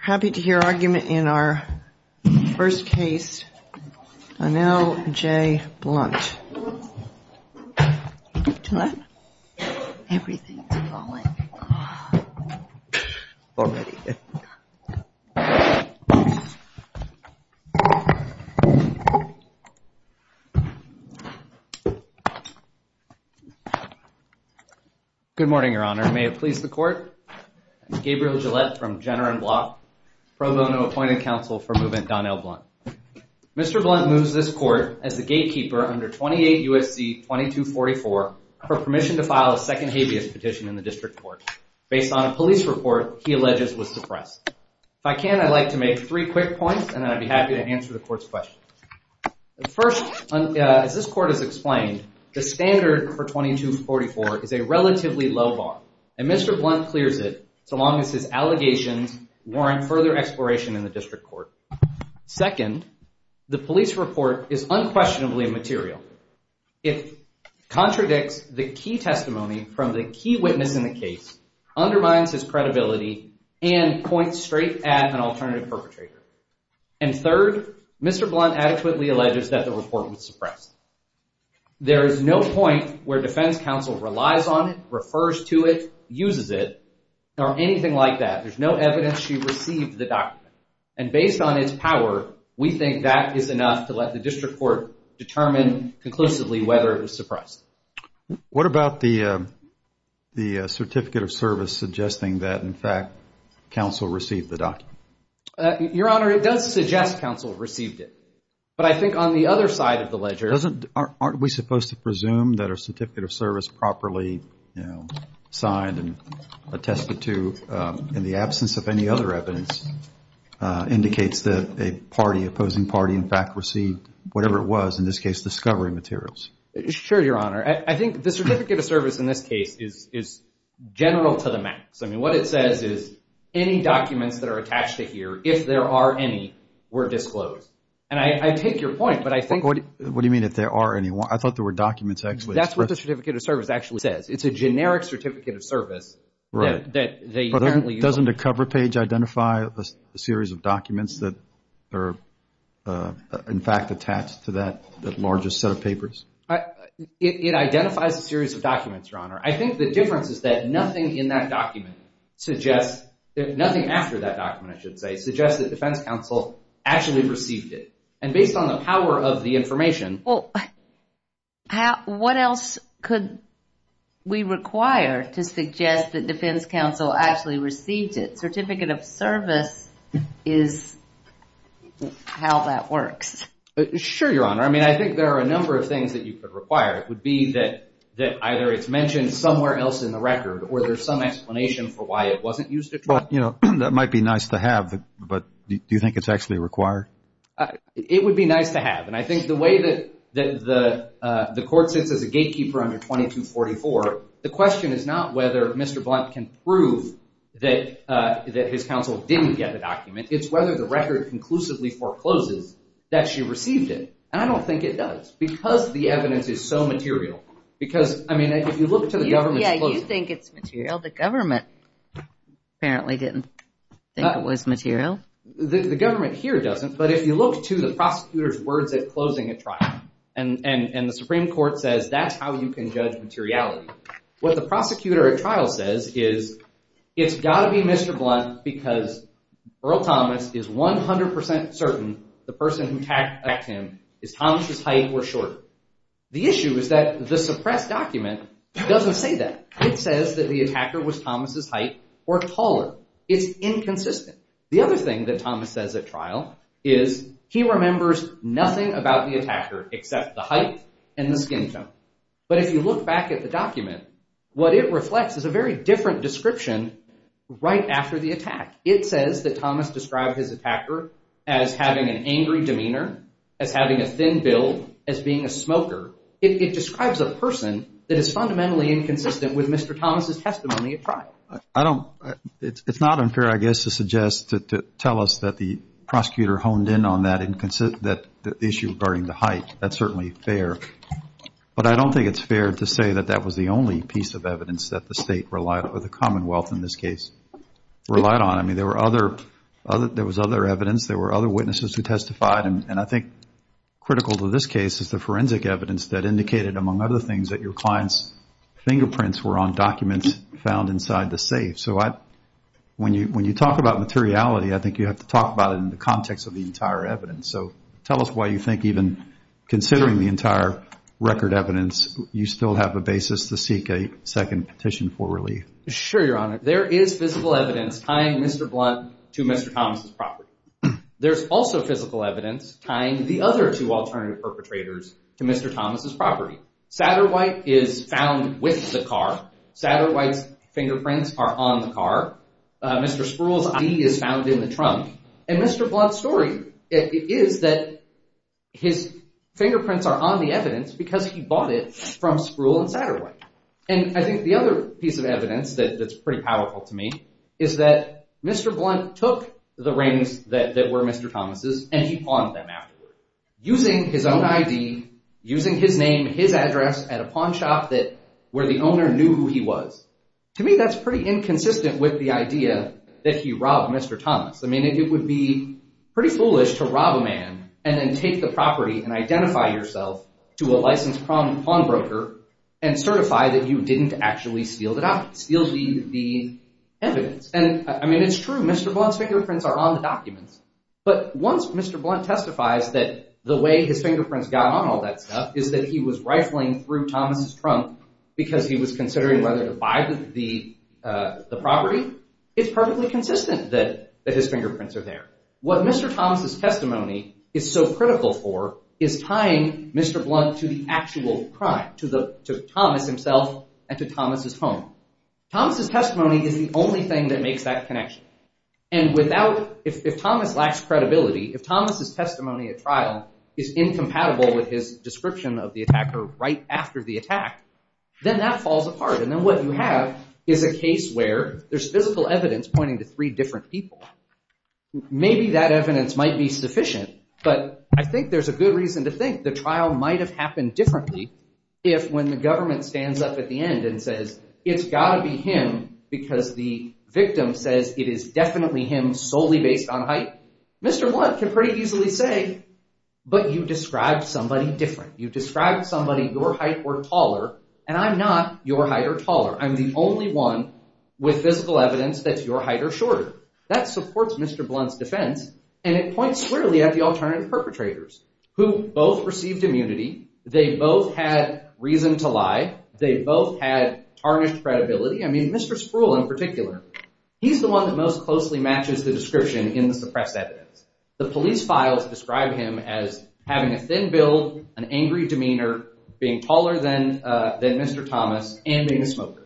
Happy to hear argument in our first case, Donell J. Blount. Good morning, Your Honor. May it please the Court? I'm Gabriel Gillette from Jenner & Block, Pro Bono Appointed Counsel for Movement Donell Blount. Mr. Blount moves this Court, as the gatekeeper under 28 U.S.C. 2244, for permission to file a second habeas petition in the District Court, based on a police report he alleges was suppressed. If I can, I'd like to make three quick points, and then I'd be happy to answer the Court's questions. First, as this Court has explained, the standard for 2244 is a relatively low bar, and Mr. Blount clears it, so long as his allegations warrant further exploration in the District Court. Second, the police report is unquestionably material. It contradicts the key testimony from the key witness in the case, undermines his credibility, and points straight at an alternative perpetrator. And third, Mr. Blount adequately alleges that the report was suppressed. There is no point where defense counsel relies on it, refers to it, uses it, or anything like that. There's no evidence she received the document, and based on its power, we think that is enough to let the District Court determine conclusively whether it was suppressed. What about the certificate of service suggesting that, in fact, counsel received the document? Your Honor, it does suggest counsel received it, but I think on the other side of the ledger… Aren't we supposed to presume that a certificate of service properly signed and attested to in the absence of any other evidence indicates that a party, opposing party, in fact, received whatever it was, in this case, discovery materials? Sure, Your Honor. I think the certificate of service in this case is general to the max. I mean, what it says is any documents that are attached to here, if there are any, were disclosed. And I take your point, but I think… What do you mean if there are any? I thought there were documents actually… That's what the certificate of service actually says. It's a generic certificate of service that they apparently… Doesn't a cover page identify a series of documents that are, in fact, attached to that largest set of papers? It identifies a series of documents, Your Honor. I think the difference is that nothing in that document suggests… Nothing after that document, I should say, suggests that defense counsel actually received it. And based on the power of the information… Well, what else could we require to suggest that defense counsel actually received it? Certificate of service is how that works. Sure, Your Honor. I mean, I think there are a number of things that you could require. It would be that either it's mentioned somewhere else in the record or there's some explanation for why it wasn't used at trial. That might be nice to have, but do you think it's actually required? It would be nice to have. And I think the way that the court sits as a gatekeeper under 2244, the question is not whether Mr. Blunt can prove that his counsel didn't get the document. It's whether the record conclusively forecloses that she received it. And I don't think it does because the evidence is so material. Because, I mean, if you look to the government's closing… Yeah, you think it's material. The government apparently didn't think it was material. The government here doesn't, but if you look to the prosecutor's words at closing at trial, and the Supreme Court says that's how you can judge materiality, what the prosecutor at trial says is it's got to be Mr. Blunt because Earl Thomas is 100% certain the person who attacked him is Thomas' height or shorter. The issue is that the suppressed document doesn't say that. It says that the attacker was Thomas' height or taller. It's inconsistent. The other thing that Thomas says at trial is he remembers nothing about the attacker except the height and the skin tone. But if you look back at the document, what it reflects is a very different description right after the attack. It says that Thomas described his attacker as having an angry demeanor, as having a thin build, as being a smoker. It describes a person that is fundamentally inconsistent with Mr. Thomas' testimony at trial. I don't – it's not unfair, I guess, to suggest – to tell us that the prosecutor honed in on that issue regarding the height. That's certainly fair. But I don't think it's fair to say that that was the only piece of evidence that the state relied – or the Commonwealth, in this case, relied on. I mean, there were other – there was other evidence, there were other witnesses who testified, and I think critical to this case is the forensic evidence that indicated, among other things, that your client's fingerprints were on documents found inside the safe. So I – when you talk about materiality, I think you have to talk about it in the context of the entire evidence. So tell us why you think even considering the entire record evidence, you still have a basis to seek a second petition for relief. Sure, Your Honor. There is physical evidence tying Mr. Blunt to Mr. Thomas' property. There's also physical evidence tying the other two alternative perpetrators to Mr. Thomas' property. Satterwhite is found with the car. Satterwhite's fingerprints are on the car. Mr. Spruill's ID is found in the trunk. And Mr. Blunt's story is that his fingerprints are on the evidence because he bought it from Spruill and Satterwhite. And I think the other piece of evidence that's pretty powerful to me is that Mr. Blunt took the rings that were Mr. Thomas' and he pawned them afterwards. Using his own ID, using his name, his address at a pawn shop that – where the owner knew who he was. To me, that's pretty inconsistent with the idea that he robbed Mr. Thomas. I mean, it would be pretty foolish to rob a man and then take the property and identify yourself to a licensed pawnbroker and certify that you didn't actually steal the documents, steal the evidence. And, I mean, it's true. Mr. Blunt's fingerprints are on the documents. But once Mr. Blunt testifies that the way his fingerprints got on all that stuff is that he was rifling through Thomas' trunk because he was considering whether to buy the property, it's perfectly consistent that his fingerprints are there. What Mr. Thomas' testimony is so critical for is tying Mr. Blunt to the actual crime, to Thomas himself and to Thomas' home. Thomas' testimony is the only thing that makes that connection. And without – if Thomas lacks credibility, if Thomas' testimony at trial is incompatible with his description of the attacker right after the attack, then that falls apart. And then what you have is a case where there's physical evidence pointing to three different people. Maybe that evidence might be sufficient, but I think there's a good reason to think the trial might have happened differently if when the government stands up at the end and says it's got to be him because the victim says it is definitely him solely based on height. Mr. Blunt can pretty easily say, but you described somebody different. You described somebody your height or taller, and I'm not your height or taller. I'm the only one with physical evidence that your height or shorter. That supports Mr. Blunt's defense, and it points clearly at the alternative perpetrators who both received immunity. They both had reason to lie. They both had tarnished credibility. I mean, Mr. Spruill in particular, he's the one that most closely matches the description in the suppressed evidence. The police files describe him as having a thin build, an angry demeanor, being taller than Mr. Thomas, and being a smoker.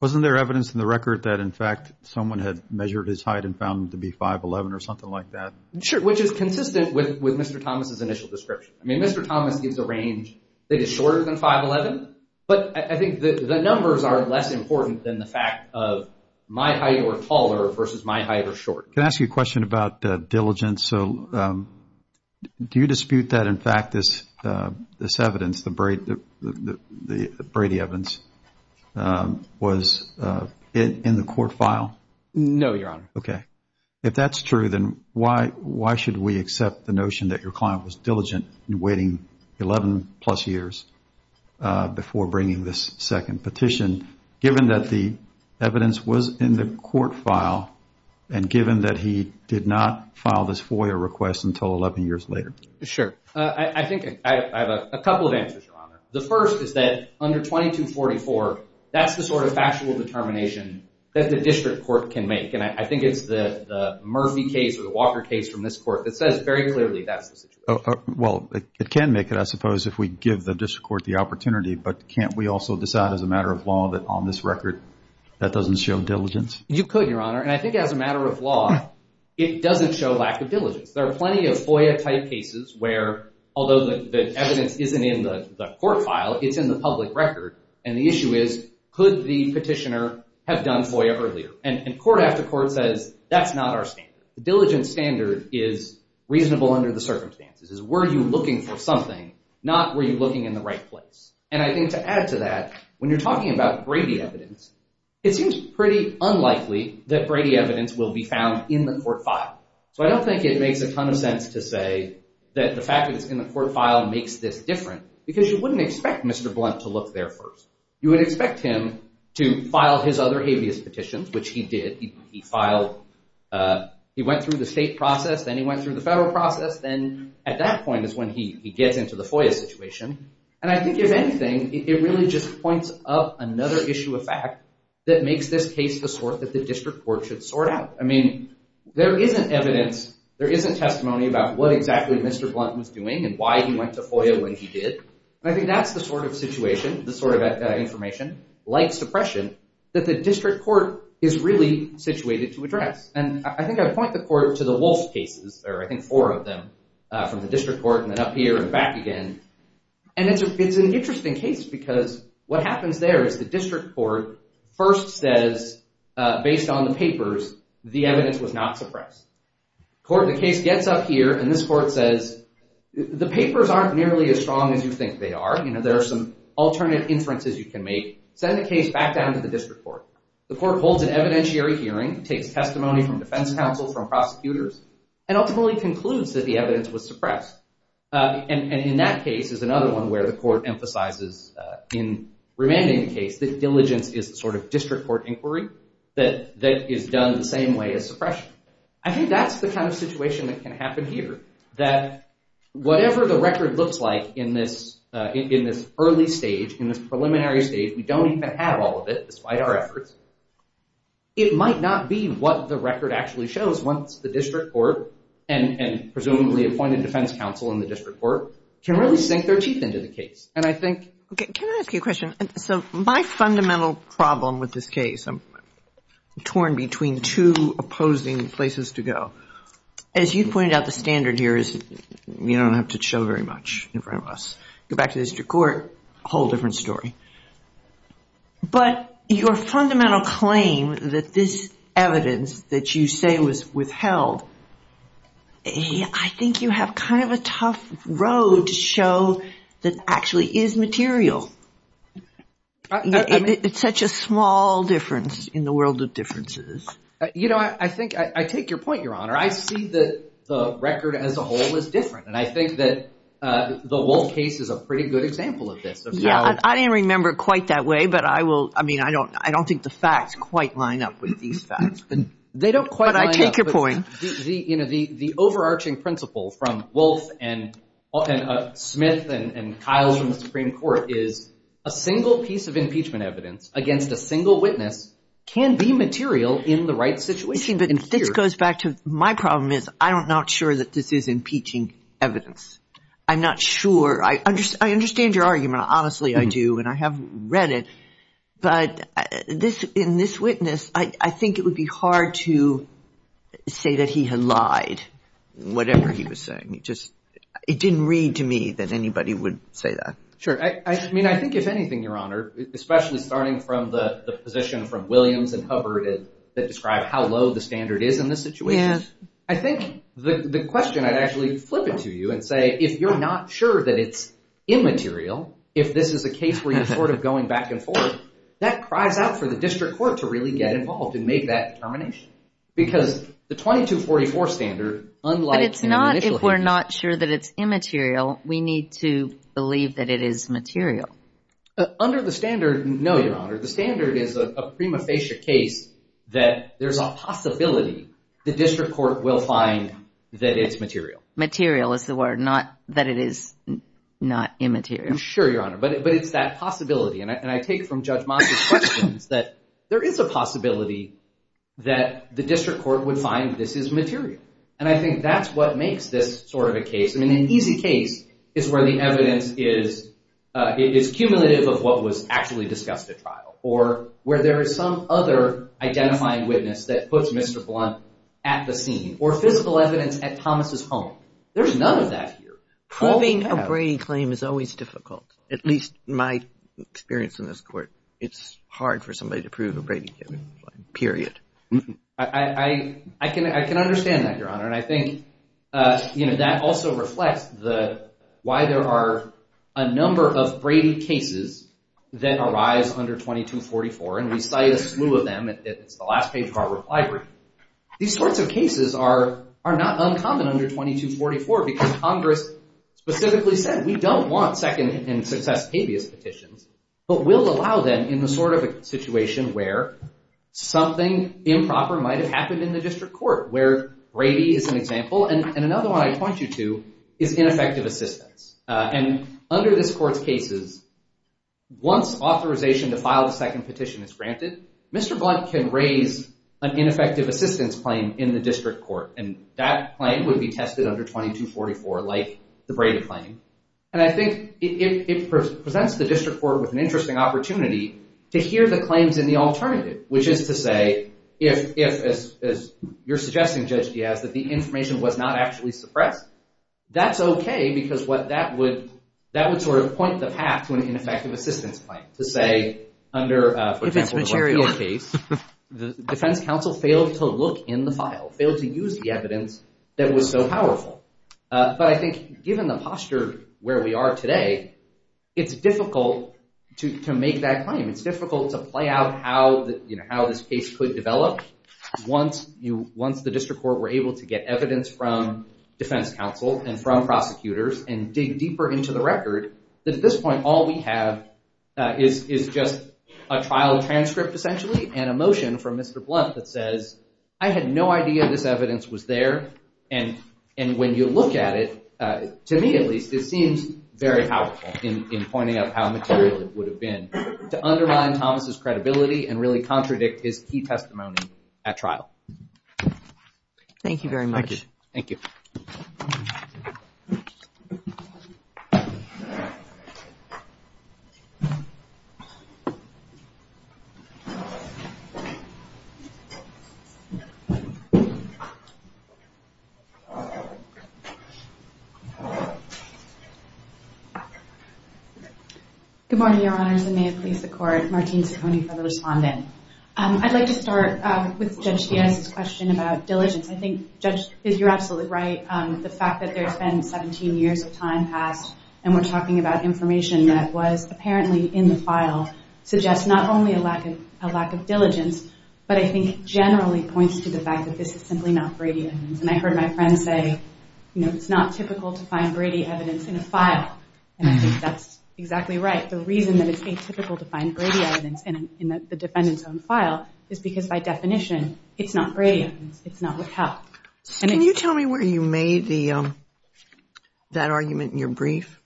Wasn't there evidence in the record that in fact someone had measured his height and found him to be 5'11 or something like that? Sure, which is consistent with Mr. Thomas' initial description. I mean, Mr. Thomas gives a range that is shorter than 5'11, but I think the numbers are less important than the fact of my height or taller versus my height or shorter. Can I ask you a question about diligence? So do you dispute that in fact this evidence, the Brady evidence, was in the court file? No, Your Honor. Okay. If that's true, then why should we accept the notion that your client was diligent in waiting 11 plus years before bringing this second petition, given that the evidence was in the court file and given that he did not file this FOIA request until 11 years later? Sure. I think I have a couple of answers, Your Honor. The first is that under 2244, that's the sort of factual determination that the district court can make, and I think it's the Murphy case or the Walker case from this court that says very clearly that's the situation. Well, it can make it, I suppose, if we give the district court the opportunity, but can't we also decide as a matter of law that on this record that doesn't show diligence? You could, Your Honor, and I think as a matter of law, it doesn't show lack of diligence. There are plenty of FOIA-type cases where although the evidence isn't in the court file, it's in the public record, and the issue is could the petitioner have done FOIA earlier? And court after court says that's not our standard. The diligence standard is reasonable under the circumstances. It's were you looking for something, not were you looking in the right place? And I think to add to that, when you're talking about Brady evidence, it seems pretty unlikely that Brady evidence will be found in the court file. So I don't think it makes a ton of sense to say that the fact that it's in the court file makes this different because you wouldn't expect Mr. Blunt to look there first. You would expect him to file his other habeas petitions, which he did. He filed, he went through the state process, then he went through the federal process, then at that point is when he gets into the FOIA situation. And I think if anything, it really just points up another issue of fact that makes this case the sort that the district court should sort out. I mean, there isn't evidence, there isn't testimony about what exactly Mr. Blunt was doing and why he went to FOIA when he did. And I think that's the sort of situation, the sort of information, like suppression, that the district court is really situated to address. And I think I would point the court to the Wolf cases, or I think four of them, from the district court and then up here and back again. And it's an interesting case because what happens there is the district court first says, based on the papers, the evidence was not suppressed. The case gets up here and this court says, the papers aren't nearly as strong as you think they are. There are some alternate inferences you can make. Send the case back down to the district court. The court holds an evidentiary hearing, takes testimony from defense counsel, from prosecutors, and ultimately concludes that the evidence was suppressed. And in that case is another one where the court emphasizes in remanding the case that diligence is the sort of district court inquiry that is done the same way as suppression. I think that's the kind of situation that can happen here, that whatever the record looks like in this early stage, in this preliminary stage, we don't even have all of it despite our efforts, it might not be what the record actually shows once the district court, and presumably appointed defense counsel in the district court, can really sink their teeth into the case. And I think... Okay, can I ask you a question? So my fundamental problem with this case, I'm torn between two opposing places to go. As you pointed out, the standard here is you don't have to show very much in front of us. Go back to the district court, a whole different story. But your fundamental claim that this evidence that you say was withheld, I think you have kind of a tough road to show that actually is material. It's such a small difference in the world of differences. You know, I think I take your point, Your Honor. I see that the record as a whole is different, and I think that the Wolfe case is a pretty good example of this. I didn't remember it quite that way, but I will. I mean, I don't think the facts quite line up with these facts. They don't quite line up. But I take your point. You know, the overarching principle from Wolfe and Smith and Kyle from the Supreme Court is a single piece of impeachment evidence against a single witness can be material in the right situation. But this goes back to my problem is I'm not sure that this is impeaching evidence. I'm not sure. I understand your argument. Honestly, I do, and I have read it. But in this witness, I think it would be hard to say that he had lied, whatever he was saying. It didn't read to me that anybody would say that. Sure. I mean, I think if anything, Your Honor, especially starting from the position from Williams and Hubbard that describe how low the standard is in this situation, I think the question I'd actually flip it to you and say if you're not sure that it's immaterial, if this is a case where you're sort of going back and forth, that cries out for the district court to really get involved and make that determination. Because the 2244 standard, unlike in the initial case. But it's not if we're not sure that it's immaterial, we need to believe that it is material. Under the standard, no, Your Honor. The standard is a prima facie case that there's a possibility the district court will find that it's material. Material is the word, not that it is not immaterial. Sure, Your Honor. But it's that possibility. And I take from Judge Moss' questions that there is a possibility that the district court would find this is material. And I think that's what makes this sort of a case. I mean, an easy case is where the evidence is cumulative of what was actually discussed at trial or where there is some other identifying witness that puts Mr. Blunt at the scene or physical evidence at Thomas' home. There's none of that here. Proving a Brady claim is always difficult. At least my experience in this court, it's hard for somebody to prove a Brady claim, period. I can understand that, Your Honor. And I think that also reflects why there are a number of Brady cases that arise under 2244. And we cite a slew of them. It's the last page of our reply brief. These sorts of cases are not uncommon under 2244 because Congress specifically said, we don't want second and success habeas petitions, but we'll allow them in the sort of situation where something improper might have happened in the district court, where Brady is an example and another one I point you to is ineffective assistance. And under this court's cases, once authorization to file the second petition is granted, Mr. Blunt can raise an ineffective assistance claim in the district court, and that claim would be tested under 2244 like the Brady claim. And I think it presents the district court with an interesting opportunity to hear the claims in the alternative, which is to say if, as you're suggesting, Judge Diaz, that the information was not actually suppressed, that's okay because that would sort of point the path to an ineffective assistance claim to say under, for example, the Lafayette case, the defense counsel failed to look in the file, failed to use the evidence that was so powerful. But I think given the posture where we are today, it's difficult to make that claim. It's difficult to play out how this case could develop once the district court were able to get evidence from defense counsel and from prosecutors and dig deeper into the record that at this point all we have is just a trial transcript essentially and a motion from Mr. Blunt that says I had no idea this evidence was there. And when you look at it, to me at least, it seems very powerful in pointing out how material it would have been to undermine Thomas' credibility and really contradict his key testimony at trial. Thank you very much. Thank you. Good morning, Your Honors. And may it please the Court, Martine Ciccone for the respondent. I'd like to start with Judge Diaz's question about diligence. I think, Judge, you're absolutely right. The fact that there's been 17 years of time passed and we're talking about information that was apparently in the file suggests not only a lack of diligence, but I think generally points to the fact that this is simply not Brady evidence. And I heard my friend say, you know, it's not typical to find Brady evidence in a file. And I think that's exactly right. The reason that it's atypical to find Brady evidence in the defendant's own file is because by definition it's not Brady evidence. It's not withheld. Can you tell me where you made that argument in your brief?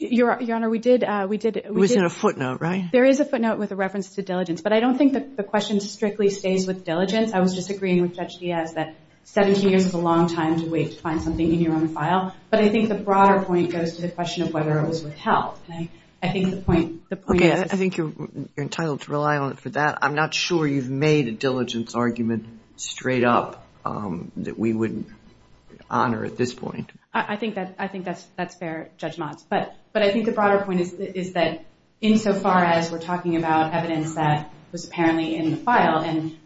Your Honor, we did. It was in a footnote, right? There is a footnote with a reference to diligence. But I don't think the question strictly stays with diligence. I was just agreeing with Judge Diaz that 17 years is a long time to wait to find something in your own file. But I think the broader point goes to the question of whether it was withheld. Okay, I think you're entitled to rely on it for that. I'm not sure you've made a diligence argument straight up that we would honor at this point. I think that's fair, Judge Motz. But I think the broader point is that insofar as we're talking about evidence that was apparently in the file, and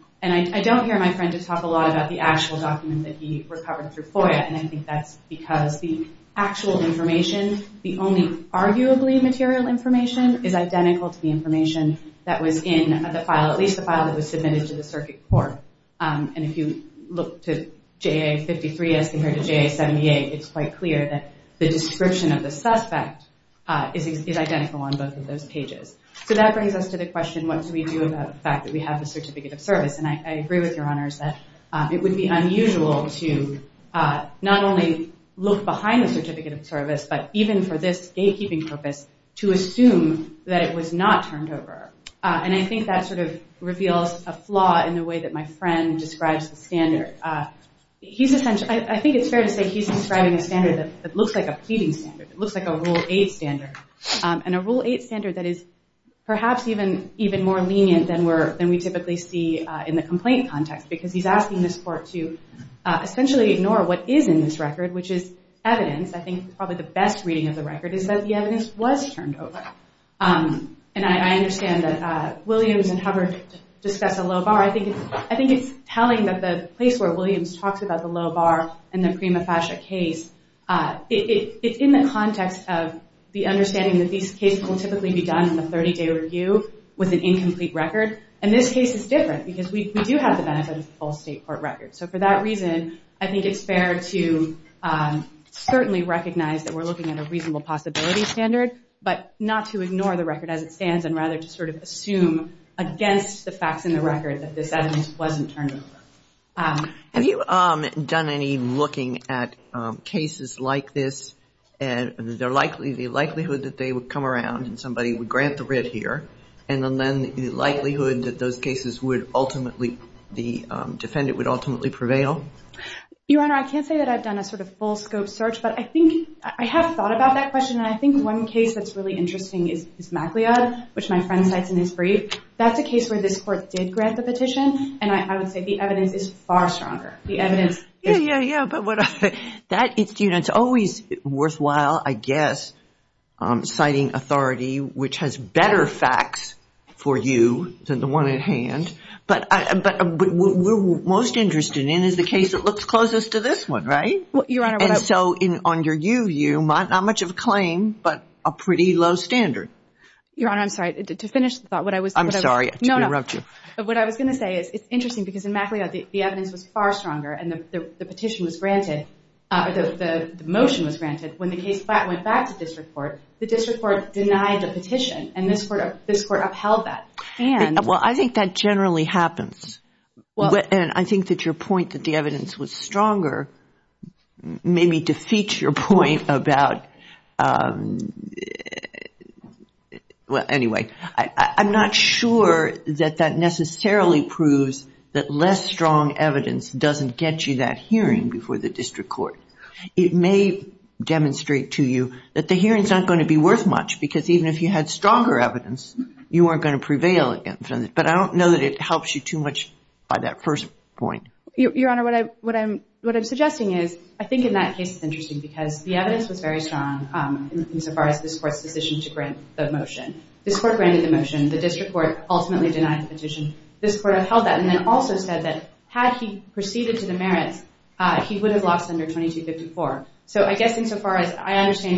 I don't hear my friend just talk a lot about the actual document that he recovered through FOIA. And I think that's because the actual information, the only arguably material information, is identical to the information that was in the file, at least the file that was submitted to the circuit court. And if you look to JA-53 as compared to JA-78, it's quite clear that the description of the suspect is identical on both of those pages. So that brings us to the question, what do we do about the fact that we have a certificate of service? And I agree with Your Honors that it would be unusual to not only look behind the certificate of service, but even for this gatekeeping purpose, to assume that it was not turned over. And I think that sort of reveals a flaw in the way that my friend describes the standard. I think it's fair to say he's describing a standard that looks like a pleading standard, it looks like a Rule 8 standard, and a Rule 8 standard that is perhaps even more lenient than we typically see in the complaint context. Because he's asking this court to essentially ignore what is in this record, which is evidence. I think probably the best reading of the record is that the evidence was turned over. And I understand that Williams and Hubbard discuss a low bar. I think it's telling that the place where Williams talks about the low bar in the Prima Fascia case, it's in the context of the understanding that these cases will typically be done in a 30-day review with an incomplete record. And this case is different, because we do have the benefit of the full state court record. So for that reason, I think it's fair to certainly recognize that we're looking at a reasonable possibility standard, but not to ignore the record as it stands, and rather to sort of assume against the facts in the record that this evidence wasn't turned over. Have you done any looking at cases like this, and the likelihood that they would come around and somebody would grant the writ here, and then the likelihood that those cases would ultimately, the defendant would ultimately prevail? Your Honor, I can't say that I've done a sort of full scope search, but I think, I have thought about that question, and I think one case that's really interesting is MacLeod, which my friend cites in his brief. That's a case where this court did grant the petition, and I would say the evidence is far stronger. Yeah, yeah, yeah. But it's always worthwhile, I guess, citing authority, which has better facts for you than the one at hand. But what we're most interested in is the case that looks closest to this one, right? And so on your you, you, not much of a claim, but a pretty low standard. Your Honor, I'm sorry, to finish the thought. I'm sorry to interrupt you. No, no. What I was going to say is it's interesting because in MacLeod the evidence was far stronger, and the petition was granted, the motion was granted. When the case went back to district court, the district court denied the petition, and this court upheld that. Well, I think that generally happens, and I think that your point that the evidence was stronger maybe defeats your point about anyway. I'm not sure that that necessarily proves that less strong evidence doesn't get you that hearing before the district court. It may demonstrate to you that the hearing is not going to be worth much because even if you had stronger evidence, you weren't going to prevail against it. But I don't know that it helps you too much by that first point. Your Honor, what I'm suggesting is I think in that case it's interesting because the evidence was very strong insofar as this court's decision to grant the motion. This court granted the motion. The district court ultimately denied the petition. This court upheld that and then also said that had he proceeded to the merits, he would have lost under 2254. So I guess insofar as I understand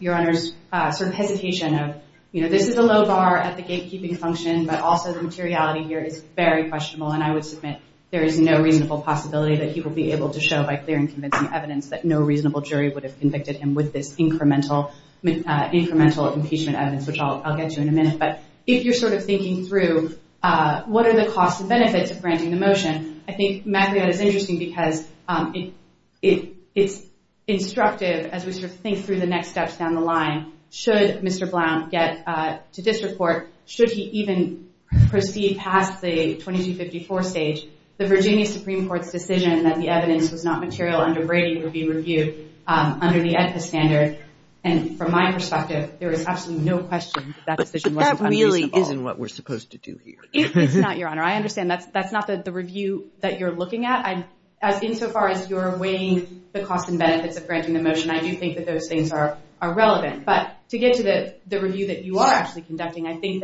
your Honor's sort of hesitation of, you know, this is a low bar at the gatekeeping function, but also the materiality here is very questionable, and I would submit there is no reasonable possibility that he will be able to show by clear and convincing evidence that no reasonable jury would have convicted him with this incremental impeachment evidence, which I'll get to in a minute. But if you're sort of thinking through what are the costs and benefits of granting the motion, I think Macriot is interesting because it's instructive as we sort of think through the next steps down the line. Should Mr. Blount get to district court? Should he even proceed past the 2254 stage? The Virginia Supreme Court's decision that the evidence was not material under Brady would be reviewed under the EDPA standard. And from my perspective, there is absolutely no question that decision wasn't unreasonable. But that really isn't what we're supposed to do here. It's not, Your Honor. I understand that's not the review that you're looking at. Insofar as you're weighing the costs and benefits of granting the motion, I do think that those things are relevant. But to get to the review that you are actually conducting, I think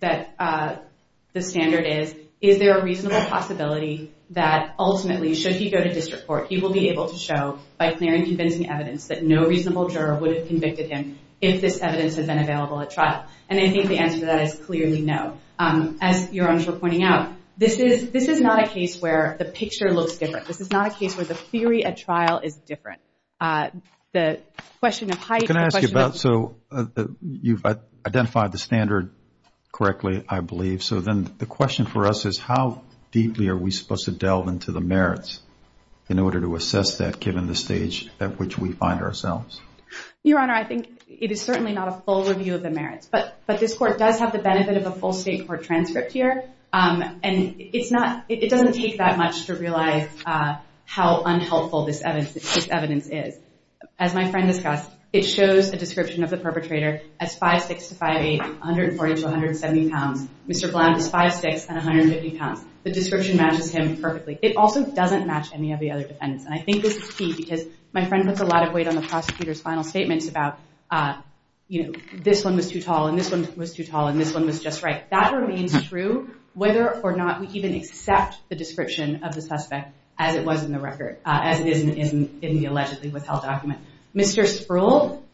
that the standard is, is there a reasonable possibility that ultimately, should he go to district court, he will be able to show by clear and convincing evidence that no reasonable juror would have convicted him if this evidence had been available at trial? And I think the answer to that is clearly no. As Your Honors were pointing out, this is not a case where the picture looks different. This is not a case where the theory at trial is different. The question of height. Can I ask you about, so you've identified the standard correctly, I believe. So then the question for us is how deeply are we supposed to delve into the merits in order to assess that given the stage at which we find ourselves? Your Honor, I think it is certainly not a full review of the merits. But this court does have the benefit of a full state court transcript here. And it's not, it doesn't take that much to realize how unhelpful this evidence is. As my friend discussed, it shows a description of the perpetrator as 5'6 to 5'8, 140 to 170 pounds. Mr. Blount is 5'6 and 150 pounds. The description matches him perfectly. It also doesn't match any of the other defendants. And I think this is key because my friend puts a lot of weight on the prosecutor's final statements about, you know, this one was too tall and this one was too tall and this one was just right. That remains true whether or not we even accept the description of the suspect as it was in the record, as it is in the allegedly withheld document. Mr. Sproul,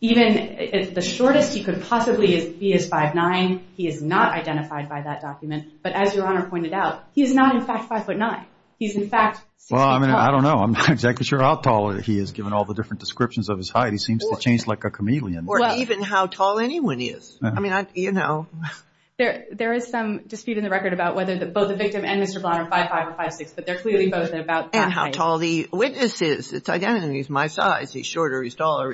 even the shortest he could possibly be is 5'9. He is not identified by that document. But as Your Honor pointed out, he is not in fact 5'9. He's in fact 6 feet tall. Well, I don't know. I'm not exactly sure how tall he is given all the different descriptions of his height. He seems to change like a chameleon. Or even how tall anyone is. I mean, you know. There is some dispute in the record about whether both the victim and Mr. Blount are 5'5 or 5'6, but they're clearly both about that height. And how tall the witness is. It's identical. He's my size. He's shorter. He's taller.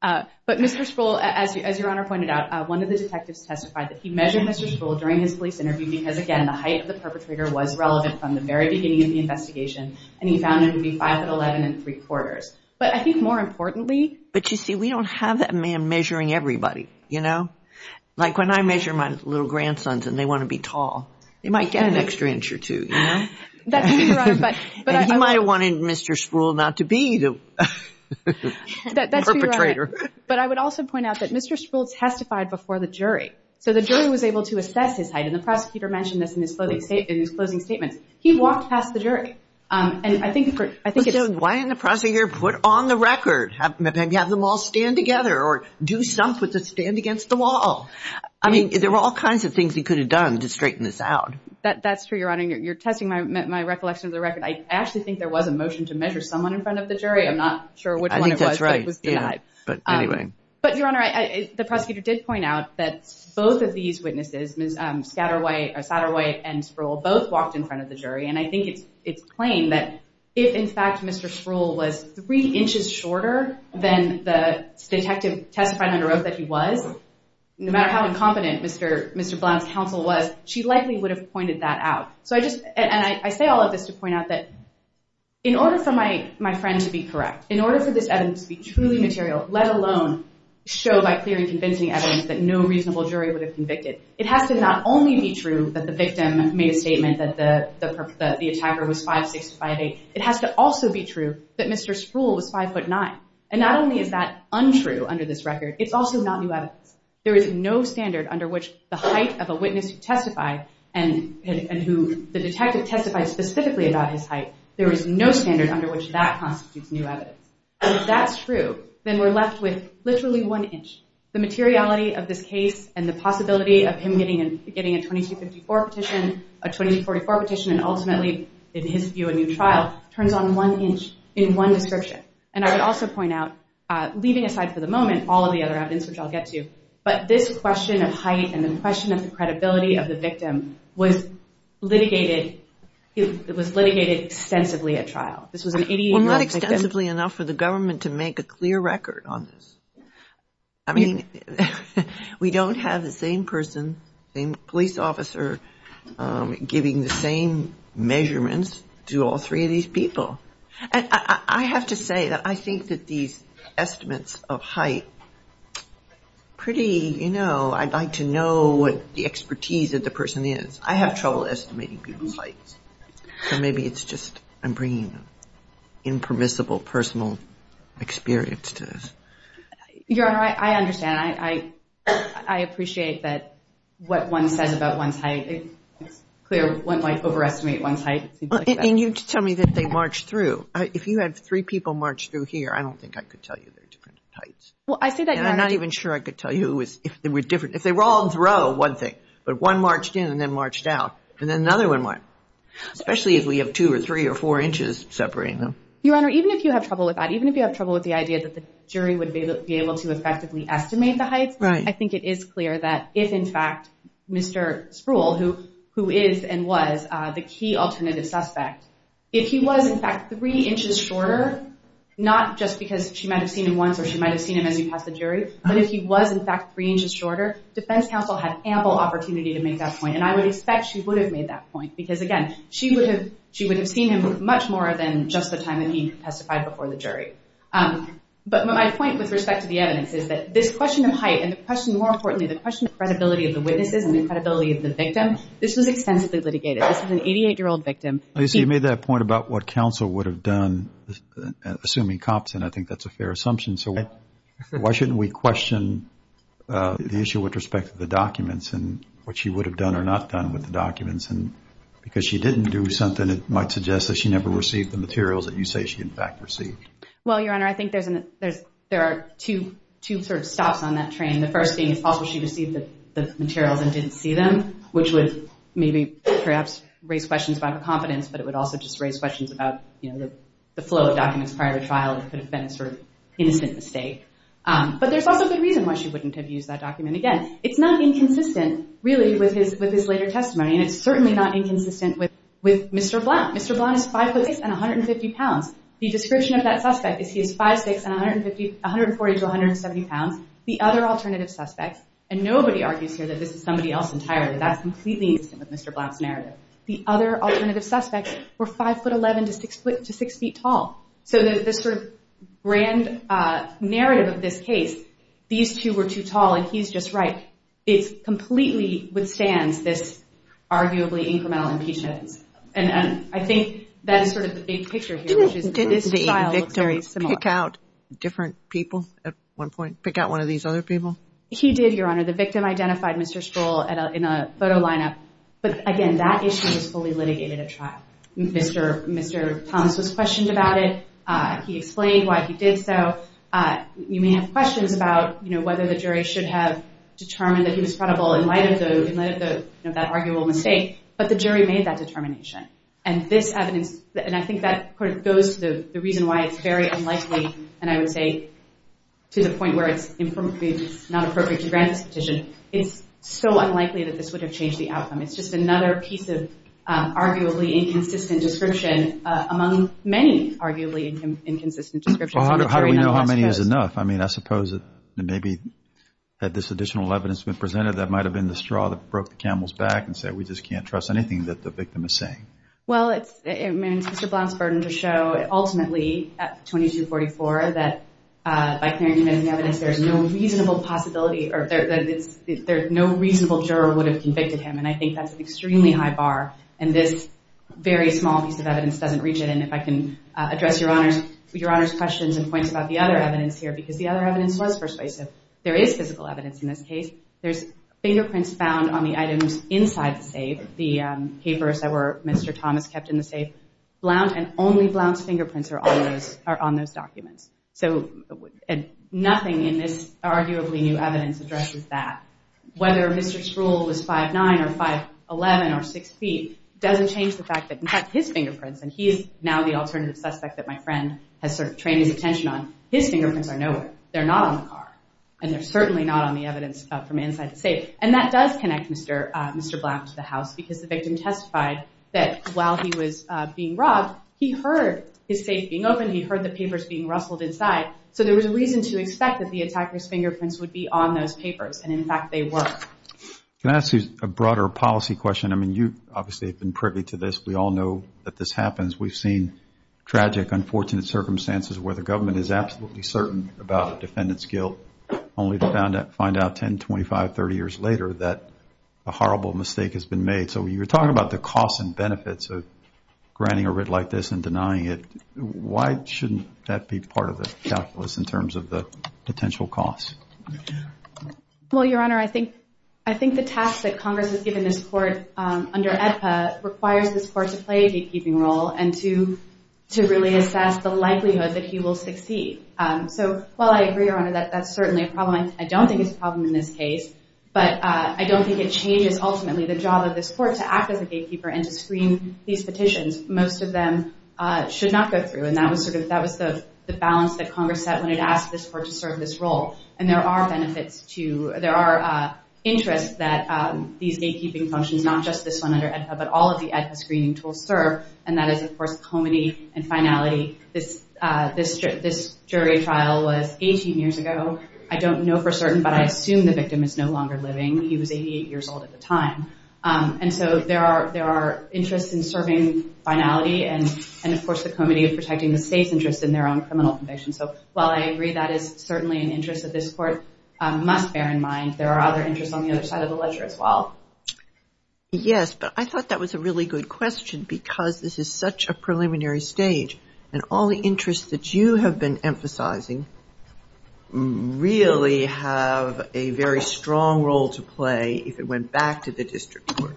But Mr. Sproul, as Your Honor pointed out, one of the detectives testified that he measured Mr. Sproul during his police interview because, again, the height of the perpetrator was relevant from the very beginning of the investigation, and he found him to be 5'11 and 3 quarters. But I think more importantly. But, you see, we don't have that man measuring everybody, you know. Like when I measure my little grandsons and they want to be tall, they might get an extra inch or two, you know. That's true, Your Honor. And he might have wanted Mr. Sproul not to be the perpetrator. But I would also point out that Mr. Sproul testified before the jury, so the jury was able to assess his height, and the prosecutor mentioned this in his closing statements. He walked past the jury. And I think it's. Why didn't the prosecutor put on the record, maybe have them all stand together or do something to stand against the wall? I mean, there were all kinds of things he could have done to straighten this out. That's true, Your Honor. You're testing my recollection of the record. I actually think there was a motion to measure someone in front of the jury. I'm not sure which one it was. I think that's right. But anyway. But, Your Honor, the prosecutor did point out that both of these witnesses, Ms. Satterwhite and Sproul, both walked in front of the jury. And I think it's plain that if, in fact, Mr. Sproul was three inches shorter than the detective testified under oath that he was, no matter how incompetent Mr. Blount's counsel was, she likely would have pointed that out. And I say all of this to point out that in order for my friend to be correct, in order for this evidence to be truly material, let alone show by clear and convincing evidence that no reasonable jury would have convicted, it has to not only be true that the victim made a statement that the attacker was 5'6", 5'8", it has to also be true that Mr. Sproul was 5'9". And not only is that untrue under this record, it's also not new evidence. There is no standard under which the height of a witness who testified and who the detective testified specifically about his height, there is no standard under which that constitutes new evidence. And if that's true, then we're left with literally one inch. The materiality of this case and the possibility of him getting a 2254 petition, a 2244 petition, and ultimately, in his view, a new trial, turns on one inch in one description. And I would also point out, leaving aside for the moment all of the other evidence, which I'll get to, but this question of height and the question of the credibility of the victim was litigated extensively at trial. Well, not extensively enough for the government to make a clear record on this. I mean, we don't have the same person, the same police officer, giving the same measurements to all three of these people. I have to say that I think that these estimates of height, pretty, you know, I'd like to know what the expertise of the person is. I have trouble estimating people's heights. So maybe it's just I'm bringing impermissible personal experience to this. Your Honor, I understand. I appreciate that what one says about one's height. It's clear one might overestimate one's height. And you tell me that they marched through. If you had three people march through here, I don't think I could tell you their different heights. Well, I say that, Your Honor. And I'm not even sure I could tell you if they were different. But one marched in and then marched out, and then another one marched. Especially if we have two or three or four inches separating them. Your Honor, even if you have trouble with that, even if you have trouble with the idea that the jury would be able to effectively estimate the heights, I think it is clear that if, in fact, Mr. Spruill, who is and was the key alternative suspect, if he was, in fact, three inches shorter, not just because she might have seen him once or she might have seen him as he passed the jury, but if he was, in fact, three inches shorter, defense counsel had ample opportunity to make that point. And I would expect she would have made that point because, again, she would have seen him much more than just the time that he testified before the jury. But my point with respect to the evidence is that this question of height and the question, more importantly, the question of credibility of the witnesses and the credibility of the victim, this was extensively litigated. This was an 88-year-old victim. You see, you made that point about what counsel would have done, assuming cops, and I think that's a fair assumption. So why shouldn't we question the issue with respect to the documents and what she would have done or not done with the documents? Because she didn't do something that might suggest that she never received the materials that you say she, in fact, received. Well, Your Honor, I think there are two sort of stops on that train, the first being it's possible she received the materials and didn't see them, which would maybe perhaps raise questions about her confidence, but it would also just raise questions about the flow of documents prior to trial that could have been a sort of innocent mistake. But there's also a good reason why she wouldn't have used that document again. It's not inconsistent, really, with his later testimony, and it's certainly not inconsistent with Mr. Blount. Mr. Blount is 5'6 and 150 pounds. The description of that suspect is he is 5'6 and 140 to 170 pounds. The other alternative suspects, and nobody argues here that this is somebody else entirely. That's completely innocent with Mr. Blount's narrative. The other alternative suspects were 5'11 to 6 feet tall. So the sort of grand narrative of this case, these two were too tall, and he's just right. It completely withstands this arguably incremental impeachment. And I think that's sort of the big picture here, which is this trial looks very similar. Didn't the victim pick out different people at one point, pick out one of these other people? He did, Your Honor. The victim identified Mr. Stroll in a photo lineup. Mr. Thomas was questioned about it. He explained why he did so. You may have questions about whether the jury should have determined that he was credible in light of that arguable mistake, but the jury made that determination. And this evidence, and I think that goes to the reason why it's very unlikely, and I would say to the point where it's not appropriate to grant this petition, it's so unlikely that this would have changed the outcome. It's just another piece of arguably inconsistent description among many arguably inconsistent descriptions. Well, how do we know how many is enough? I mean, I suppose that maybe had this additional evidence been presented, that might have been the straw that broke the camel's back and said, we just can't trust anything that the victim is saying. Well, it's Mr. Blount's burden to show ultimately at 2244 that by clarifying the evidence, there's no reasonable possibility or no reasonable juror would have convicted him. And I think that's an extremely high bar. And this very small piece of evidence doesn't reach it. And if I can address Your Honor's questions and points about the other evidence here, because the other evidence was persuasive. There is physical evidence in this case. There's fingerprints found on the items inside the safe, the papers that Mr. Thomas kept in the safe. Blount and only Blount's fingerprints are on those documents. So nothing in this arguably new evidence addresses that. Whether Mr. Sproul was 5'9 or 5'11 or 6 feet doesn't change the fact that in fact his fingerprints, and he is now the alternative suspect that my friend has sort of trained his attention on, his fingerprints are nowhere. They're not on the car. And they're certainly not on the evidence from inside the safe. And that does connect Mr. Blount to the house, because the victim testified that while he was being robbed, he heard his safe being open. He heard the papers being rustled inside. So there was a reason to expect that the attacker's fingerprints would be on those papers. And, in fact, they were. Can I ask you a broader policy question? I mean, you obviously have been privy to this. We all know that this happens. We've seen tragic, unfortunate circumstances where the government is absolutely certain about a defendant's guilt, only to find out 10, 25, 30 years later that a horrible mistake has been made. So you were talking about the costs and benefits of granting a writ like this and denying it. Why shouldn't that be part of the calculus in terms of the potential costs? Well, Your Honor, I think the task that Congress has given this court under AEDPA requires this court to play a gatekeeping role and to really assess the likelihood that he will succeed. So while I agree, Your Honor, that that's certainly a problem, I don't think it's a problem in this case, but I don't think it changes ultimately the job of this court to act as a gatekeeper and to screen these petitions. Most of them should not go through, and that was the balance that Congress set when it asked this court to serve this role. And there are benefits to – there are interests that these gatekeeping functions, not just this one under AEDPA, but all of the AEDPA screening tools serve, and that is, of course, comity and finality. This jury trial was 18 years ago. I don't know for certain, but I assume the victim is no longer living. He was 88 years old at the time. And so there are interests in serving finality and, of course, the comity of protecting the state's interests in their own criminal convictions. So while I agree that is certainly an interest that this court must bear in mind, there are other interests on the other side of the ledger as well. Yes, but I thought that was a really good question because this is such a preliminary stage, and all the interests that you have been emphasizing really have a very strong role to play if it went back to the district court.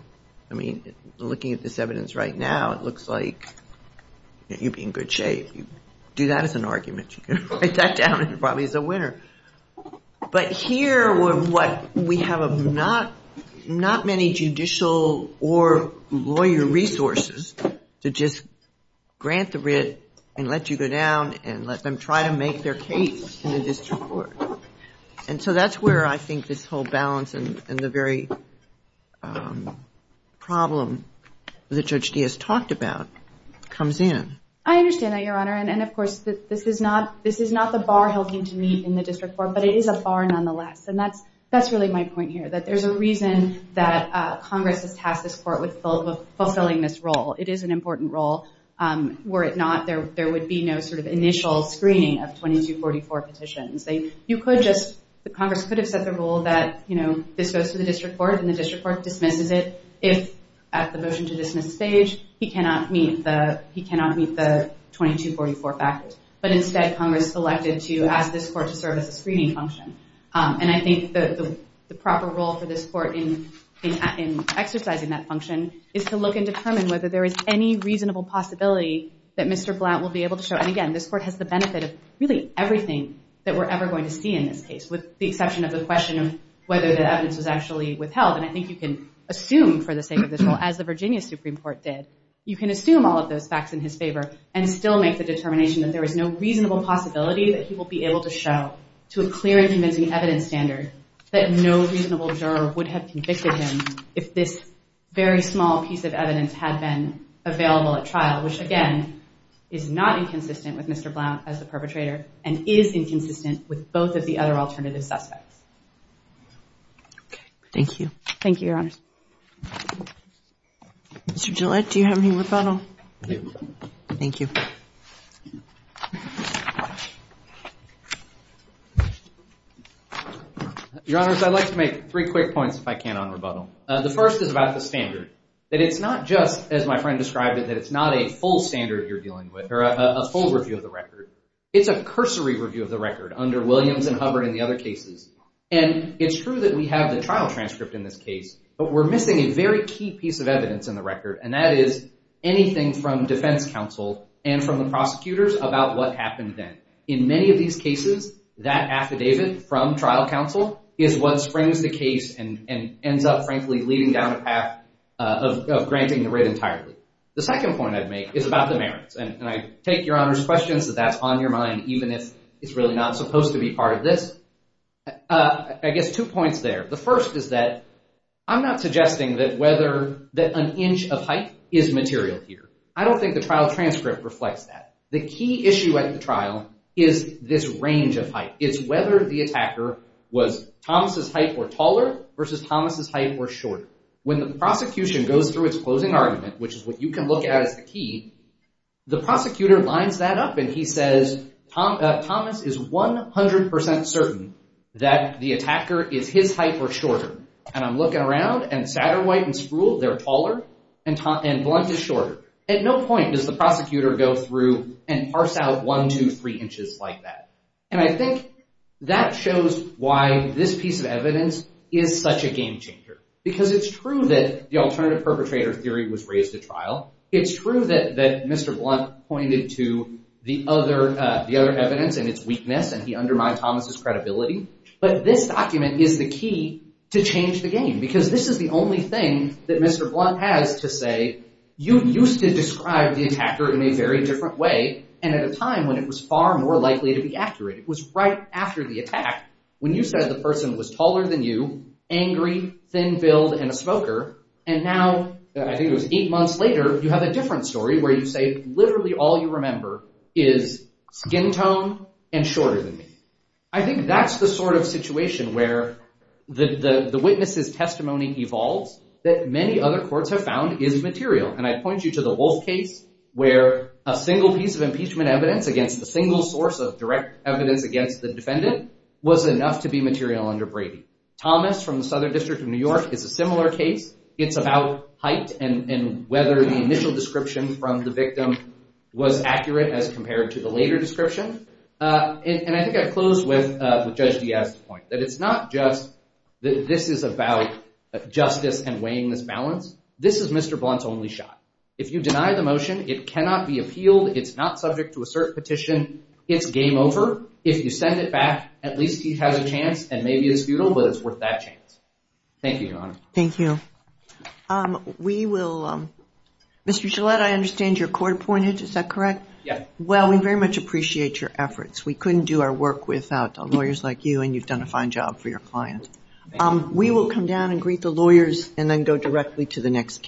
I mean, looking at this evidence right now, it looks like you'd be in good shape. You'd do that as an argument. You could write that down and it probably is a winner. But here, we have not many judicial or lawyer resources to just grant the writ and let you go down and let them try to make their case in the district court. And so that's where I think this whole balance and the very problem that Judge Diaz talked about comes in. I understand that, Your Honor. And, of course, this is not the bar he'll need to meet in the district court, but it is a bar nonetheless. And that's really my point here, that there's a reason that Congress has tasked this court with fulfilling this role. It is an important role. Were it not, there would be no sort of initial screening of 2244 petitions. Congress could have set the rule that this goes to the district court and the district court dismisses it. If at the motion to dismiss stage, he cannot meet the 2244 factors. But instead, Congress selected to ask this court to serve as a screening function. And I think the proper role for this court in exercising that function is to look and determine whether there is any reasonable possibility that Mr. Blount will be able to show. And, again, this court has the benefit of really everything that we're ever going to see in this case, with the exception of the question of whether the evidence was actually withheld. And I think you can assume, for the sake of this role, as the Virginia Supreme Court did, you can assume all of those facts in his favor and still make the determination that there is no reasonable possibility that he will be able to show to a clear and convincing evidence standard that no reasonable juror would have convicted him if this very small piece of evidence had been available at trial, which, again, is not inconsistent with Mr. Blount as the perpetrator and is inconsistent with both of the other alternative suspects. Okay. Thank you. Thank you, Your Honors. Mr. Gillette, do you have any rebuttal? Thank you. Your Honors, I'd like to make three quick points, if I can, on rebuttal. The first is about the standard, that it's not just, as my friend described it, that it's not a full standard you're dealing with or a full review of the record. It's a cursory review of the record under Williams and Hubbard and the other cases. And it's true that we have the trial transcript in this case, but we're missing a very key piece of evidence in the record, and that is anything from defense counsel and from the prosecutors about what happened then. In many of these cases, that affidavit from trial counsel is what springs the case and ends up, frankly, leading down a path of granting the writ entirely. The second point I'd make is about the merits. And I take Your Honors' questions that that's on your mind, even if it's really not supposed to be part of this. I guess two points there. The first is that I'm not suggesting that whether an inch of height is material here. I don't think the trial transcript reflects that. The key issue at the trial is this range of height. It's whether the attacker was Thomas' height or taller versus Thomas' height or shorter. When the prosecution goes through its closing argument, which is what you can look at as the key, the prosecutor lines that up, and he says, Thomas is 100% certain that the attacker is his height or shorter. And I'm looking around, and Satterwhite and Spruill, they're taller, and Blunt is shorter. At no point does the prosecutor go through and parse out one, two, three inches like that. And I think that shows why this piece of evidence is such a game-changer, because it's true that the alternative perpetrator theory was raised at trial. It's true that Mr. Blunt pointed to the other evidence and its weakness, and he undermined Thomas' credibility. But this document is the key to change the game, because this is the only thing that Mr. Blunt has to say, you used to describe the attacker in a very different way, and at a time when it was far more likely to be accurate. It was right after the attack, when you said the person was taller than you, angry, thin-billed, and a smoker. And now, I think it was eight months later, you have a different story, where you say literally all you remember is skin tone and shorter than me. I think that's the sort of situation where the witness's testimony evolves, that many other courts have found is material. And I point you to the Wolf case, where a single piece of impeachment evidence against the single source of direct evidence against the defendant, was enough to be material under Brady. Thomas, from the Southern District of New York, is a similar case. It's about height, and whether the initial description from the victim was accurate as compared to the later description. And I think I close with Judge Diaz's point, that it's not just that this is about justice and weighing this balance. This is Mr. Blunt's only shot. If you deny the motion, it cannot be appealed, it's not subject to a cert petition, it's game over. If you send it back, at least he has a chance, and maybe it's futile, but it's worth that chance. Thank you, Your Honor. Thank you. We will, Mr. Gillette, I understand you're court-appointed, is that correct? Yeah. Well, we very much appreciate your efforts. We couldn't do our work without lawyers like you, and you've done a fine job for your client. We will come down and greet the lawyers, and then go directly to the next case.